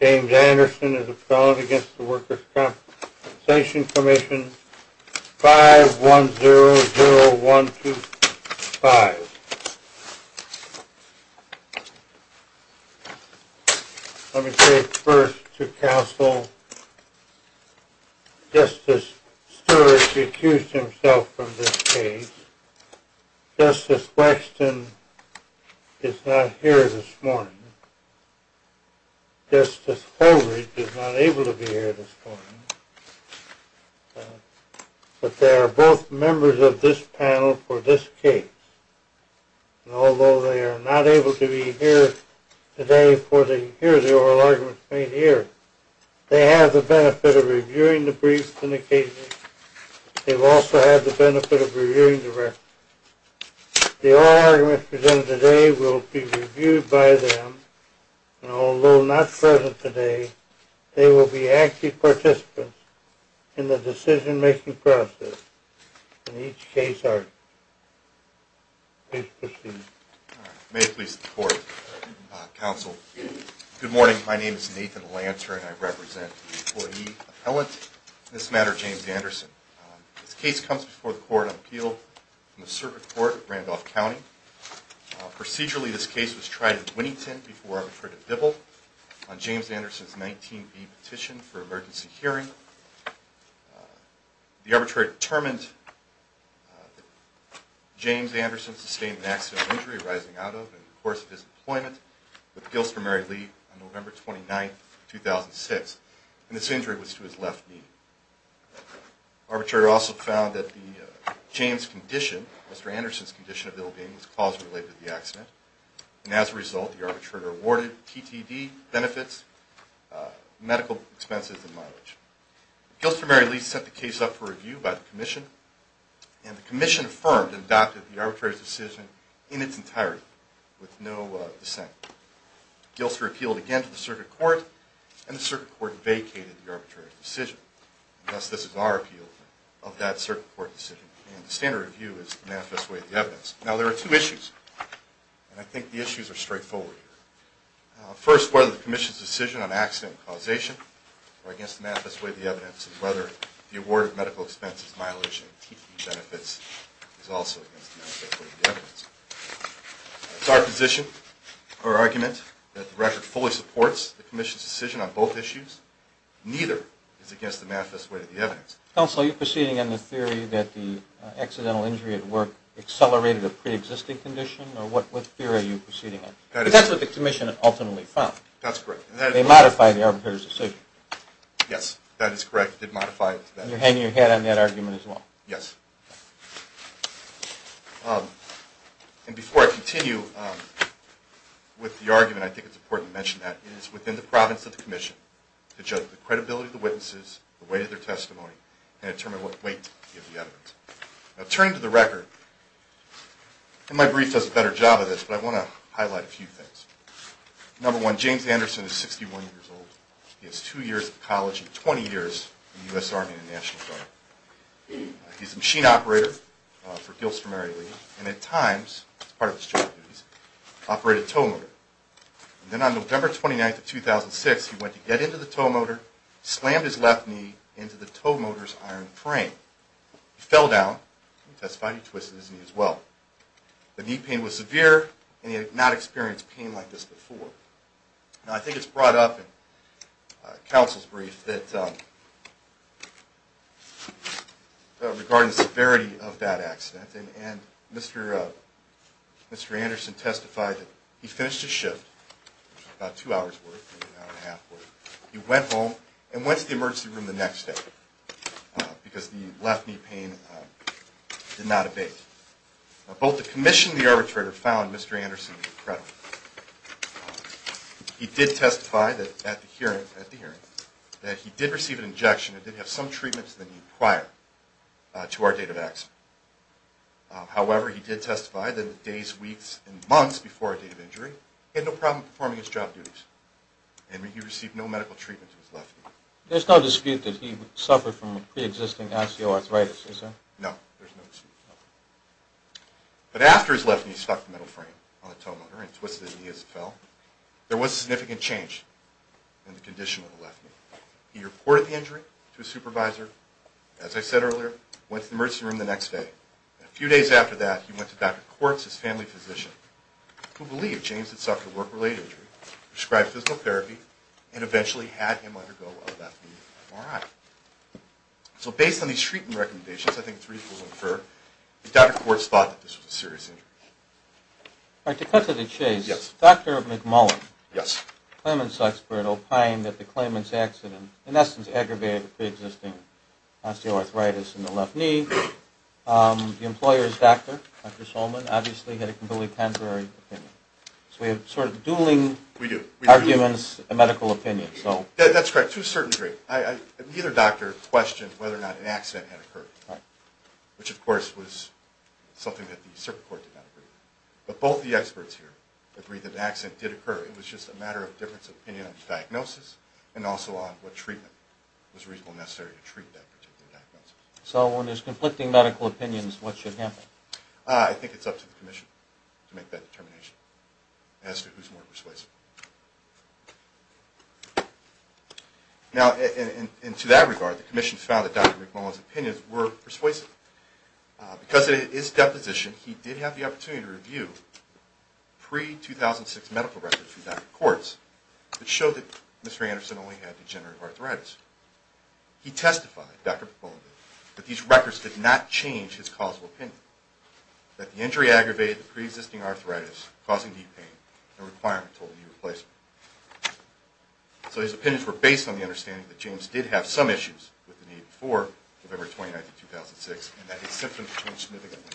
James Anderson is a felon against the Workers' Compensation Commission, 5100125. Let me say first to counsel, Justice Stewart accused himself of this case. Justice Waxton is not here this morning. Justice Holdridge is not able to be here this morning. But they are both members of this panel for this case. And although they are not able to be here today for the oral arguments made here, they have the benefit of reviewing the briefs and occasions. They've also had the benefit of reviewing the records. The oral arguments presented today will be reviewed by them. And although not present today, they will be active participants in the decision-making process in each case argument. Please proceed. May it please the Court, Counsel. Good morning. My name is Nathan Lanter and I represent the employee appellant in this matter, James Anderson. This case comes before the Court on Appeal in the Circuit Court in Randolph County. Procedurally, this case was tried in Winnington before Arbitrative Dibble on James Anderson's 19b petition for emergency hearing. The Arbitrator determined that James Anderson sustained an accidental injury arising out of and in the course of his employment with Gilston Mary Lee on November 29, 2006. And this injury was to his left knee. The Arbitrator also found that the James condition, Mr. Anderson's condition of the leg and his cause related to the accident. And as a result, the Arbitrator awarded TTD benefits, medical expenses, and mileage. Gilston Mary Lee set the case up for review by the Commission. And the Commission affirmed and adopted the Arbitrator's decision in its entirety with no dissent. Gilston appealed again to the Circuit Court and the Circuit Court vacated the Arbitrator's decision. Thus, this is our appeal of that Circuit Court decision. And the standard review is the manifest way of the evidence. Now, there are two issues, and I think the issues are straightforward. First, whether the Commission's decision on accident causation are against the manifest way of the evidence, and whether the award of medical expenses, mileage, and TTD benefits is also against the manifest way of the evidence. It's our position or argument that the record fully supports the Commission's decision on both issues. Counsel, are you proceeding on the theory that the accidental injury at work accelerated a preexisting condition? Or what theory are you proceeding on? Because that's what the Commission ultimately found. That's correct. They modified the Arbitrator's decision. Yes, that is correct. They modified it. And you're hanging your hat on that argument as well. Yes. And before I continue with the argument, I think it's important to mention that it is within the province of the Commission to judge the credibility of the witnesses, the weight of their testimony, and determine what weight of the evidence. Now, turning to the record, and my brief does a better job of this, but I want to highlight a few things. Number one, James Anderson is 61 years old. He has two years of college and 20 years in the U.S. Army and the National Guard. He's a machine operator for Gilstrom Area League, and at times, as part of his job duties, operated a tow motor. Then on November 29th of 2006, he went to get into the tow motor, slammed his left knee into the tow motor's iron frame. He fell down. He testified he twisted his knee as well. The knee pain was severe, and he had not experienced pain like this before. Now, I think it's brought up in counsel's brief regarding the severity of that accident, and Mr. Anderson testified that he finished his shift, about two hours worth, maybe an hour and a half worth. He went home and went to the emergency room the next day because the left knee pain did not abate. Now, both the Commission and the arbitrator found Mr. Anderson to be credible. He did testify at the hearing that he did receive an injection and did have some treatment to the knee prior to our date of accident. However, he did testify that days, weeks, and months before our date of injury, he had no problem performing his job duties, and he received no medical treatment to his left knee. There's no dispute that he suffered from pre-existing ICO arthritis, is there? No, there's no dispute. But after his left knee stuck the metal frame on the tow motor and twisted his knee as it fell, there was significant change in the condition of the left knee. He reported the injury to his supervisor, as I said earlier, went to the emergency room the next day. A few days after that, he went to Dr. Quartz, his family physician, who believed James had suffered a work-related injury, prescribed physical therapy, and eventually had him undergo a left knee MRI. So based on these treatment recommendations, I think three things were inferred. Dr. Quartz thought that this was a serious injury. All right, to cut to the chase. Yes. Dr. McMullen. Yes. Claimant's expert opined that the claimant's accident, in essence, aggravated the pre-existing osteoarthritis in the left knee. The employer's doctor, Dr. Solman, obviously had a completely contrary opinion. So we have sort of dueling arguments, a medical opinion. That's correct, to a certain degree. Neither doctor questioned whether or not an accident had occurred, which, of course, was something that the circuit court did not agree. But both the experts here agree that an accident did occur. It was just a matter of difference of opinion on the diagnosis and also on what treatment was reasonably necessary to treat that particular diagnosis. So when there's conflicting medical opinions, what should happen? I think it's up to the commission to make that determination as to who's more persuasive. Now, and to that regard, the commission found that Dr. McMullen's opinions were persuasive. Because of his deposition, he did have the opportunity to review pre-2006 medical records from Dr. Quartz that showed that Mr. Anderson only had degenerative arthritis. He testified, Dr. McMullen did, that these records did not change his causal opinion, that the injury aggravated the pre-existing arthritis, causing knee pain, and required a total knee replacement. So his opinions were based on the understanding that James did have some issues with the knee before November 29, 2006, and that his symptoms changed significantly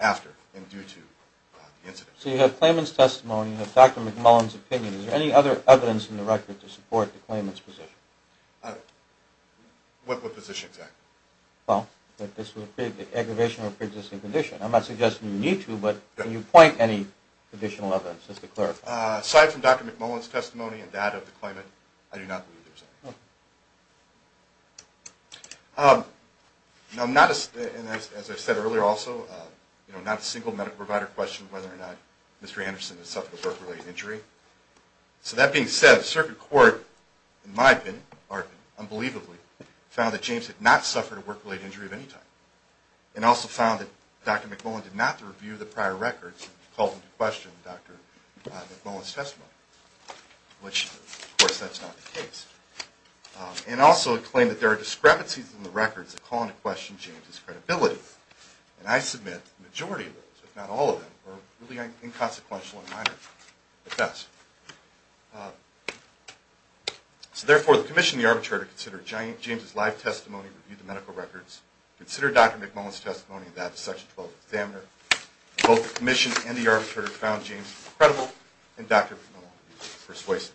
after and due to the incident. So you have claimant's testimony and Dr. McMullen's opinion. Is there any other evidence in the record to support the claimant's position? What position, exactly? Well, that this was an aggravation of a pre-existing condition. I'm not suggesting you need to, but can you point any additional evidence just to clarify? Aside from Dr. McMullen's testimony and data of the claimant, I do not believe there's any. As I said earlier also, not a single medical provider questioned whether or not Mr. Anderson had suffered a work-related injury. So that being said, the circuit court, in my opinion, or unbelievably, found that James had not suffered a work-related injury of any type, and also found that Dr. McMullen did not review the prior records, and called into question Dr. McMullen's testimony, which, of course, that's not the case. And also, it claimed that there are discrepancies in the records that call into question James's credibility. And I submit the majority of those, if not all of them, are really inconsequential in my opinion, at best. So therefore, the commission and the arbitrator considered James's live testimony, reviewed the medical records, considered Dr. McMullen's testimony, and that of the section 12 examiner. Both the commission and the arbitrator found James credible, and Dr. McMullen persuasive.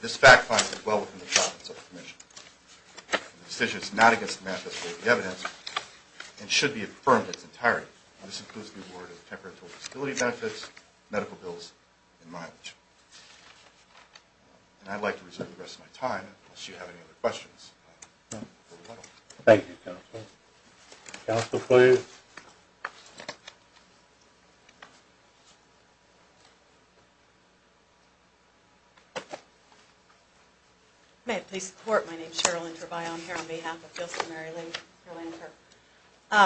This fact finds it well within the confidence of the commission. The decision is not against the manifesto of the evidence, and should be affirmed in its entirety. And this includes the award of temporary disability benefits, medical bills, and mileage. And I'd like to reserve the rest of my time, unless you have any other questions. Thank you, Counselor. Counselor, please. May it please the Court, my name is Cheryl Interbion, here on behalf of Gilson Mary Lee.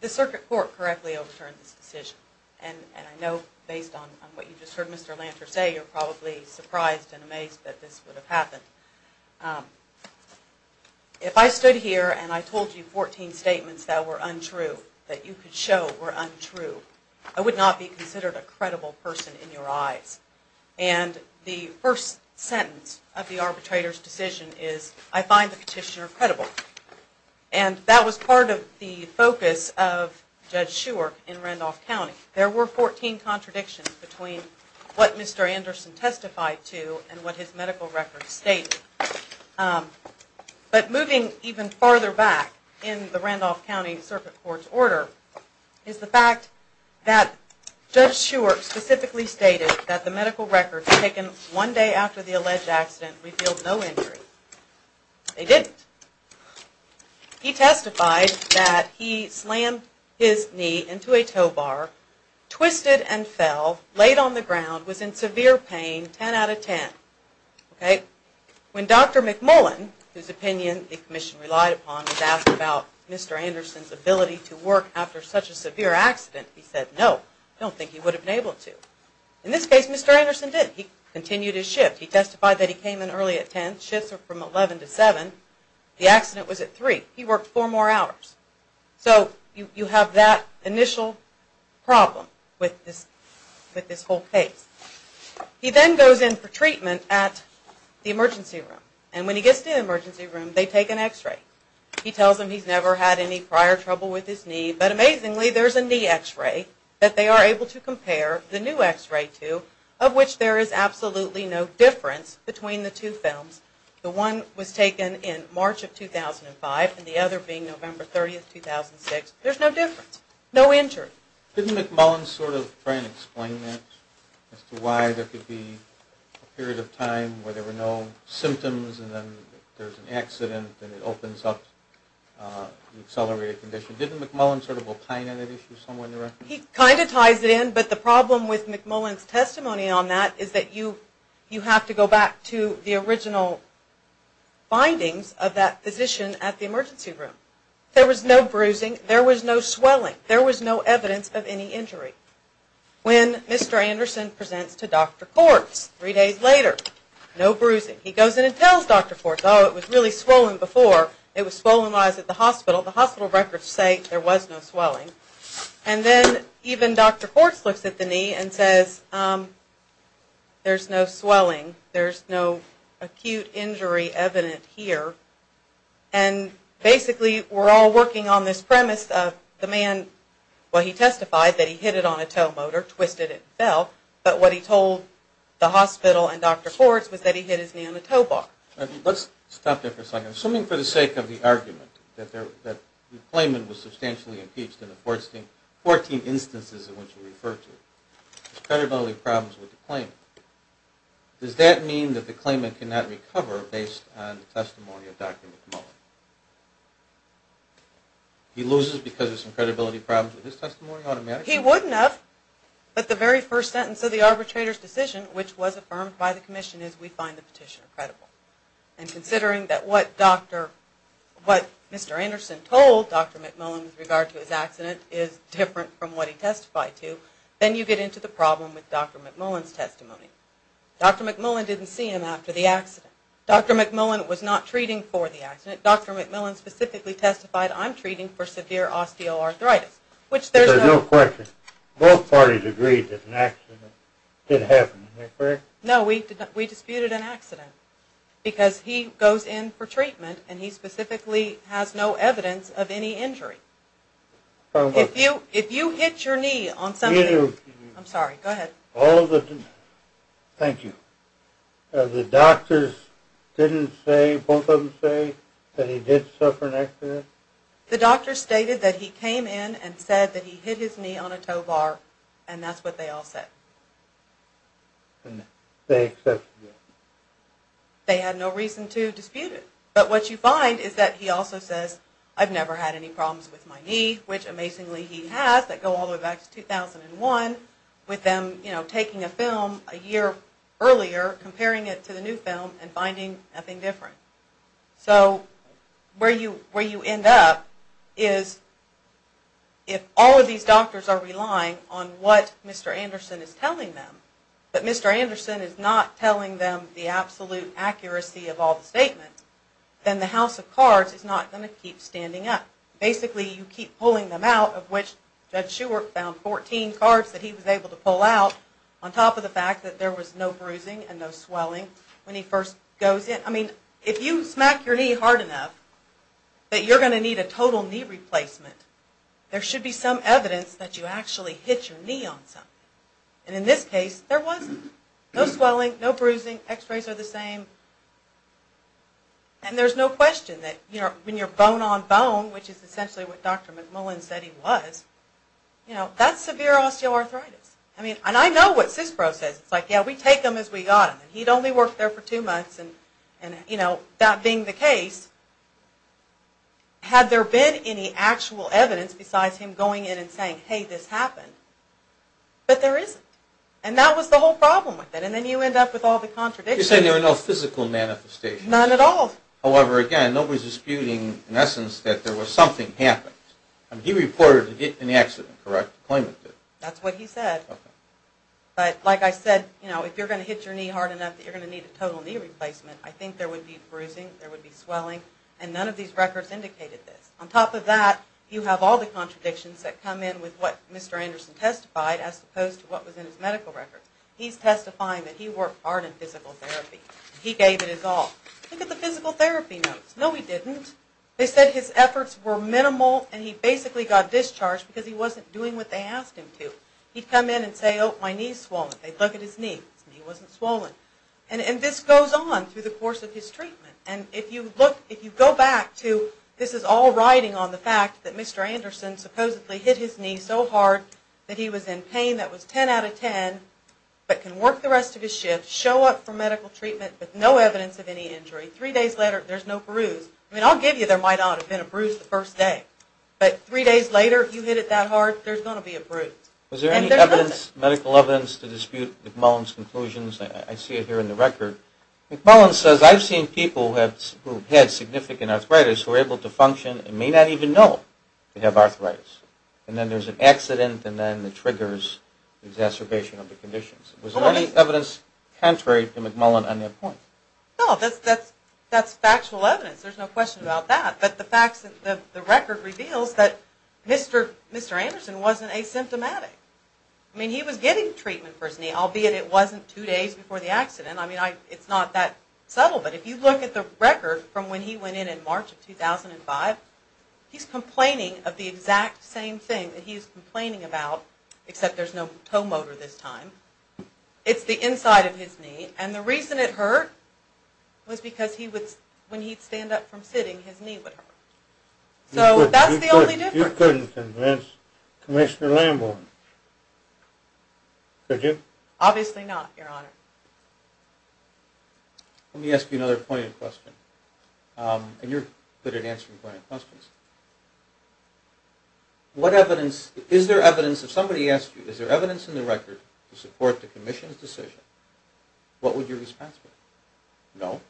The circuit court correctly overturned this decision. And I know, based on what you just heard Mr. Lanter say, you're probably surprised and amazed that this would have happened. If I stood here and I told you 14 statements that were untrue, that you could show were untrue, I would not be considered a credible person in your eyes. And the first sentence of the arbitrator's decision is, I find the petitioner credible. And that was part of the focus of Judge Shewark in Randolph County. There were 14 contradictions between what Mr. Anderson testified to and what his medical records stated. But moving even farther back in the Randolph County Circuit Court's order, is the fact that Judge Shewark specifically stated that the medical records taken one day after the alleged accident revealed no injury. They didn't. He testified that he slammed his knee into a tow bar, twisted and fell, laid on the ground, was in severe pain, 10 out of 10. When Dr. McMullen, whose opinion the Commission relied upon, was asked about Mr. Anderson's ability to work after such a severe accident, he said, no, I don't think he would have been able to. In this case, Mr. Anderson did. He continued his shift. He testified that he came in early at 10. Shifts are from 11 to 7. The accident was at 3. He worked four more hours. So you have that initial problem with this whole case. He then goes in for treatment at the emergency room. And when he gets to the emergency room, they take an x-ray. He tells them he's never had any prior trouble with his knee. But amazingly, there's a knee x-ray that they are able to compare the new x-ray to, of which there is absolutely no difference between the two films. The one was taken in March of 2005, and the other being November 30, 2006. There's no difference. No injury. Didn't McMullen sort of try and explain that, as to why there could be a period of time where there were no symptoms, and then there's an accident, and it opens up the accelerated condition? Didn't McMullen sort of opine on that issue somewhere in the record? He kind of ties it in, but the problem with McMullen's testimony on that is that you have to go back to the original findings of that physician at the emergency room. There was no bruising. There was no swelling. There was no evidence of any injury. When Mr. Anderson presents to Dr. Quartz three days later, no bruising. He goes in and tells Dr. Quartz, oh, it was really swollen before. It was swollen while he was at the hospital. The hospital records say there was no swelling. And then even Dr. Quartz looks at the knee and says, there's no swelling. There's no acute injury evident here. And basically we're all working on this premise of the man, well, he testified that he hit it on a tow motor, twisted it, and fell, but what he told the hospital and Dr. Quartz was that he hit his knee on a tow bar. Let's stop there for a second. Assuming for the sake of the argument that the claimant was substantially impeached in the 14 instances in which you refer to, there's credibility problems with the claimant, does that mean that the claimant cannot recover based on the testimony of Dr. McMullen? He loses because of some credibility problems with his testimony automatically? He wouldn't have, but the very first sentence of the arbitrator's decision, which was affirmed by the commission, is we find the petitioner credible. And considering that what Mr. Anderson told Dr. McMullen with regard to his accident is different from what he testified to, Dr. McMullen didn't see him after the accident. Dr. McMullen was not treating for the accident. Dr. McMullen specifically testified, I'm treating for severe osteoarthritis, which there's no question. Both parties agreed that an accident did happen, am I correct? No, we disputed an accident because he goes in for treatment and he specifically has no evidence of any injury. If you hit your knee on something, I'm sorry, go ahead. Thank you. The doctors didn't say, both of them say, that he did suffer an accident? The doctor stated that he came in and said that he hit his knee on a tow bar and that's what they all said. And they accepted it? They had no reason to dispute it. But what you find is that he also says, I've never had any problems with my knee, which amazingly he has, that go all the way back to 2001, with them taking a film a year earlier, comparing it to the new film, and finding nothing different. So where you end up is if all of these doctors are relying on what Mr. Anderson is telling them, but Mr. Anderson is not telling them the absolute accuracy of all the statements, then the House of Cards is not going to keep standing up. Basically, you keep pulling them out, of which Judge Schuert found 14 cards that he was able to pull out, on top of the fact that there was no bruising and no swelling when he first goes in. I mean, if you smack your knee hard enough, that you're going to need a total knee replacement, there should be some evidence that you actually hit your knee on something. And in this case, there wasn't. No swelling, no bruising, x-rays are the same. And there's no question that when you're bone-on-bone, which is essentially what Dr. McMullin said he was, that's severe osteoarthritis. And I know what CISPRO says. It's like, yeah, we take them as we got them. He'd only worked there for two months, and that being the case, had there been any actual evidence besides him going in and saying, hey, this happened, but there isn't. And that was the whole problem with it. And then you end up with all the contradictions. You're saying there were no physical manifestations. None at all. However, again, nobody's disputing, in essence, that something happened. He reported an accident, correct? That's what he said. But like I said, if you're going to hit your knee hard enough, that you're going to need a total knee replacement, I think there would be bruising, there would be swelling, and none of these records indicated this. On top of that, you have all the contradictions that come in with what Mr. Anderson testified as opposed to what was in his medical records. He's testifying that he worked hard in physical therapy. He gave it his all. Look at the physical therapy notes. No, he didn't. They said his efforts were minimal, and he basically got discharged because he wasn't doing what they asked him to. He'd come in and say, oh, my knee's swollen. They'd look at his knee. His knee wasn't swollen. And this goes on through the course of his treatment. And if you go back to this is all riding on the fact that Mr. Anderson supposedly hit his knee so hard that he was in pain that was 10 out of 10, but can work the rest of his shift, show up for medical treatment with no evidence of any injury. Three days later, there's no bruise. I mean, I'll give you there might not have been a bruise the first day. But three days later, you hit it that hard, there's going to be a bruise. Was there any medical evidence to dispute McMullen's conclusions? I see it here in the record. McMullen says, I've seen people who've had significant arthritis who are able to function and may not even know they have arthritis. And then there's an accident, and then it triggers exacerbation of the conditions. Was there any evidence contrary to McMullen on that point? No, that's factual evidence. There's no question about that. But the record reveals that Mr. Anderson wasn't asymptomatic. I mean, he was getting treatment for his knee, albeit it wasn't two days before the accident. I mean, it's not that subtle. But if you look at the record from when he went in in March of 2005, he's complaining of the exact same thing that he's complaining about, except there's no toe motor this time. It's the inside of his knee. And the reason it hurt was because when he'd stand up from sitting, his knee would hurt. So that's the only difference. You couldn't convince Commissioner Lamborn, could you? Obviously not, Your Honor. Let me ask you another poignant question. And you're good at answering poignant questions. Is there evidence, if somebody asked you, is there evidence in the record to support the Commission's decision, what would your response be? No.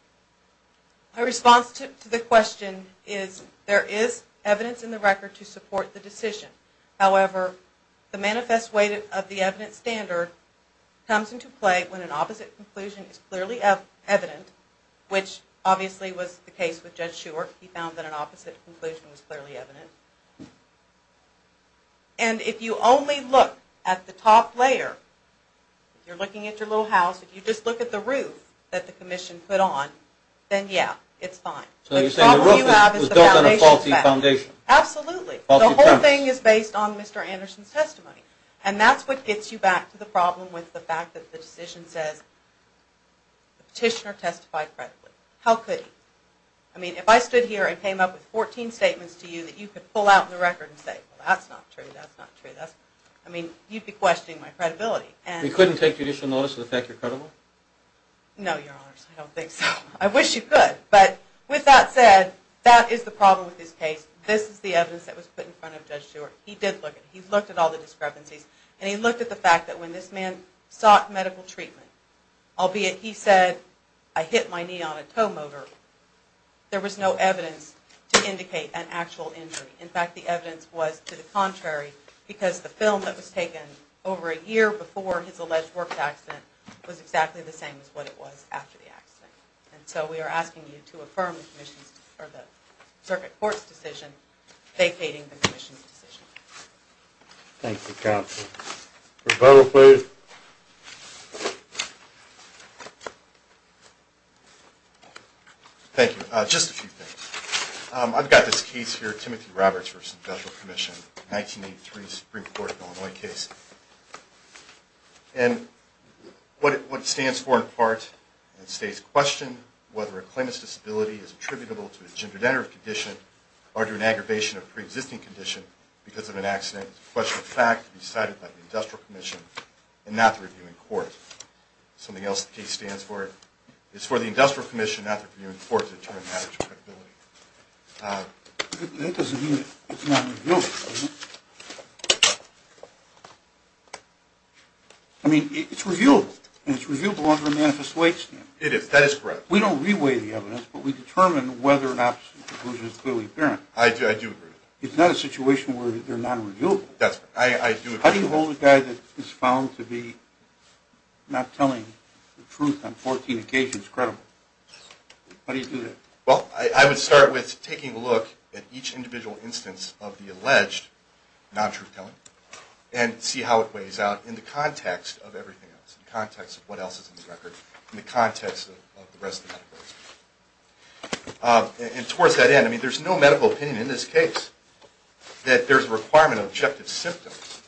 My response to the question is there is evidence in the record to support the decision. However, the manifest weight of the evidence standard comes into play when an opposite conclusion is clearly evident, which obviously was the case with Judge Schuert. He found that an opposite conclusion was clearly evident. And if you only look at the top layer, if you're looking at your little house, if you just look at the roof that the Commission put on, then, yeah, it's fine. So you're saying the roof was built on a faulty foundation? The whole thing is based on Mr. Anderson's testimony. And that's what gets you back to the problem with the fact that the decision says the petitioner testified credibly. How could he? I mean, if I stood here and came up with 14 statements to you that you could pull out in the record and say, well, that's not true, that's not true, that's not true, I mean, you'd be questioning my credibility. You couldn't take judicial notice of the fact you're credible? No, Your Honors, I don't think so. I wish you could. But with that said, that is the problem with this case. This is the evidence that was put in front of Judge Schuert. He did look at it. He looked at all the discrepancies. And he looked at the fact that when this man sought medical treatment, albeit he said, I hit my knee on a tow motor, there was no evidence to indicate an actual injury. In fact, the evidence was to the contrary, because the film that was taken over a year before his alleged work accident was exactly the same as what it was after the accident. And so we are asking you to affirm the Circuit Court's decision, vacating the Commission's decision. Thank you, Counsel. Rebuttal, please. Thank you. Just a few things. I've got this case here, Timothy Roberts v. Federal Commission, 1983 Supreme Court of Illinois case. And what it stands for in part, it states, question whether a claimant's disability is attributable to a gendered condition or to an aggravation of a preexisting condition because of an accident. It's a question of fact to be decided by the Industrial Commission and not the reviewing court. Something else the case stands for, it's for the Industrial Commission, not the reviewing court, to determine the matter to credibility. That doesn't mean it's not revealable, does it? I mean, it's revealable. And it's revealable under a manifest way standard. It is. That is correct. We don't reweigh the evidence, but we determine whether or not the conclusion is clearly apparent. I do agree. It's not a situation where they're non-revealable. That's correct. I do agree. How do you hold a guy that is found to be not telling the truth on 14 occasions credible? How do you do that? Well, I would start with taking a look at each individual instance of the alleged non-truth telling and see how it weighs out in the context of everything else, in the context of what else is in the record, in the context of the rest of the medical history. And towards that end, I mean, there's no medical opinion in this case that there's a requirement of objective symptoms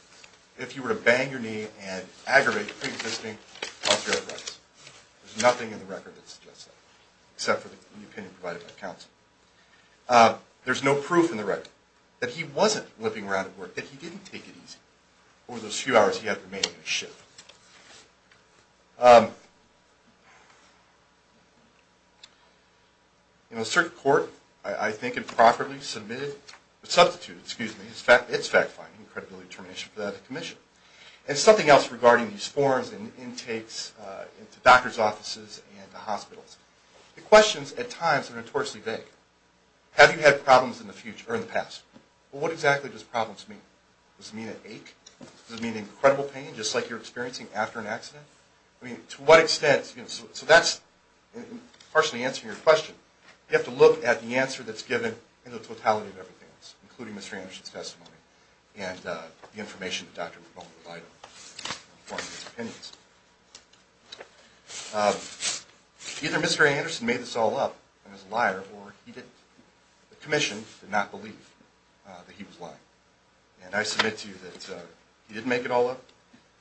if you were to bang your knee and aggravate pre-existing health care threats. There's nothing in the record that suggests that, except for the opinion provided by counsel. There's no proof in the record that he wasn't flipping around at work, that he didn't take it easy. Or those few hours he had remaining in the ship. In the circuit court, I think improperly submitted, substituted, excuse me, its fact-finding and credibility determination for that commission. And something else regarding these forms and intakes into doctor's offices and the hospitals. The questions, at times, are notoriously vague. Have you had problems in the past? Well, what exactly does problems mean? Does it mean an ache? Does it mean an incredible pain, just like you're experiencing after an accident? I mean, to what extent? So that's partially answering your question. You have to look at the answer that's given in the totality of everything else, including Mr. Anderson's testimony and the information that Dr. McMullen provided for his opinions. Either Mr. Anderson made this all up and is a liar, or the commission did not believe that he was lying. And I submit to you that he didn't make it all up,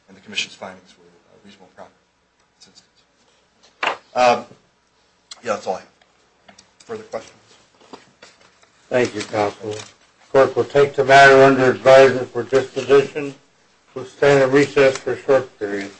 and the commission's findings were reasonable and proper. Yeah, that's all I have. Further questions? Thank you, Counselor. The court will take the matter under advisement for disposition. We'll stand at recess for a short period.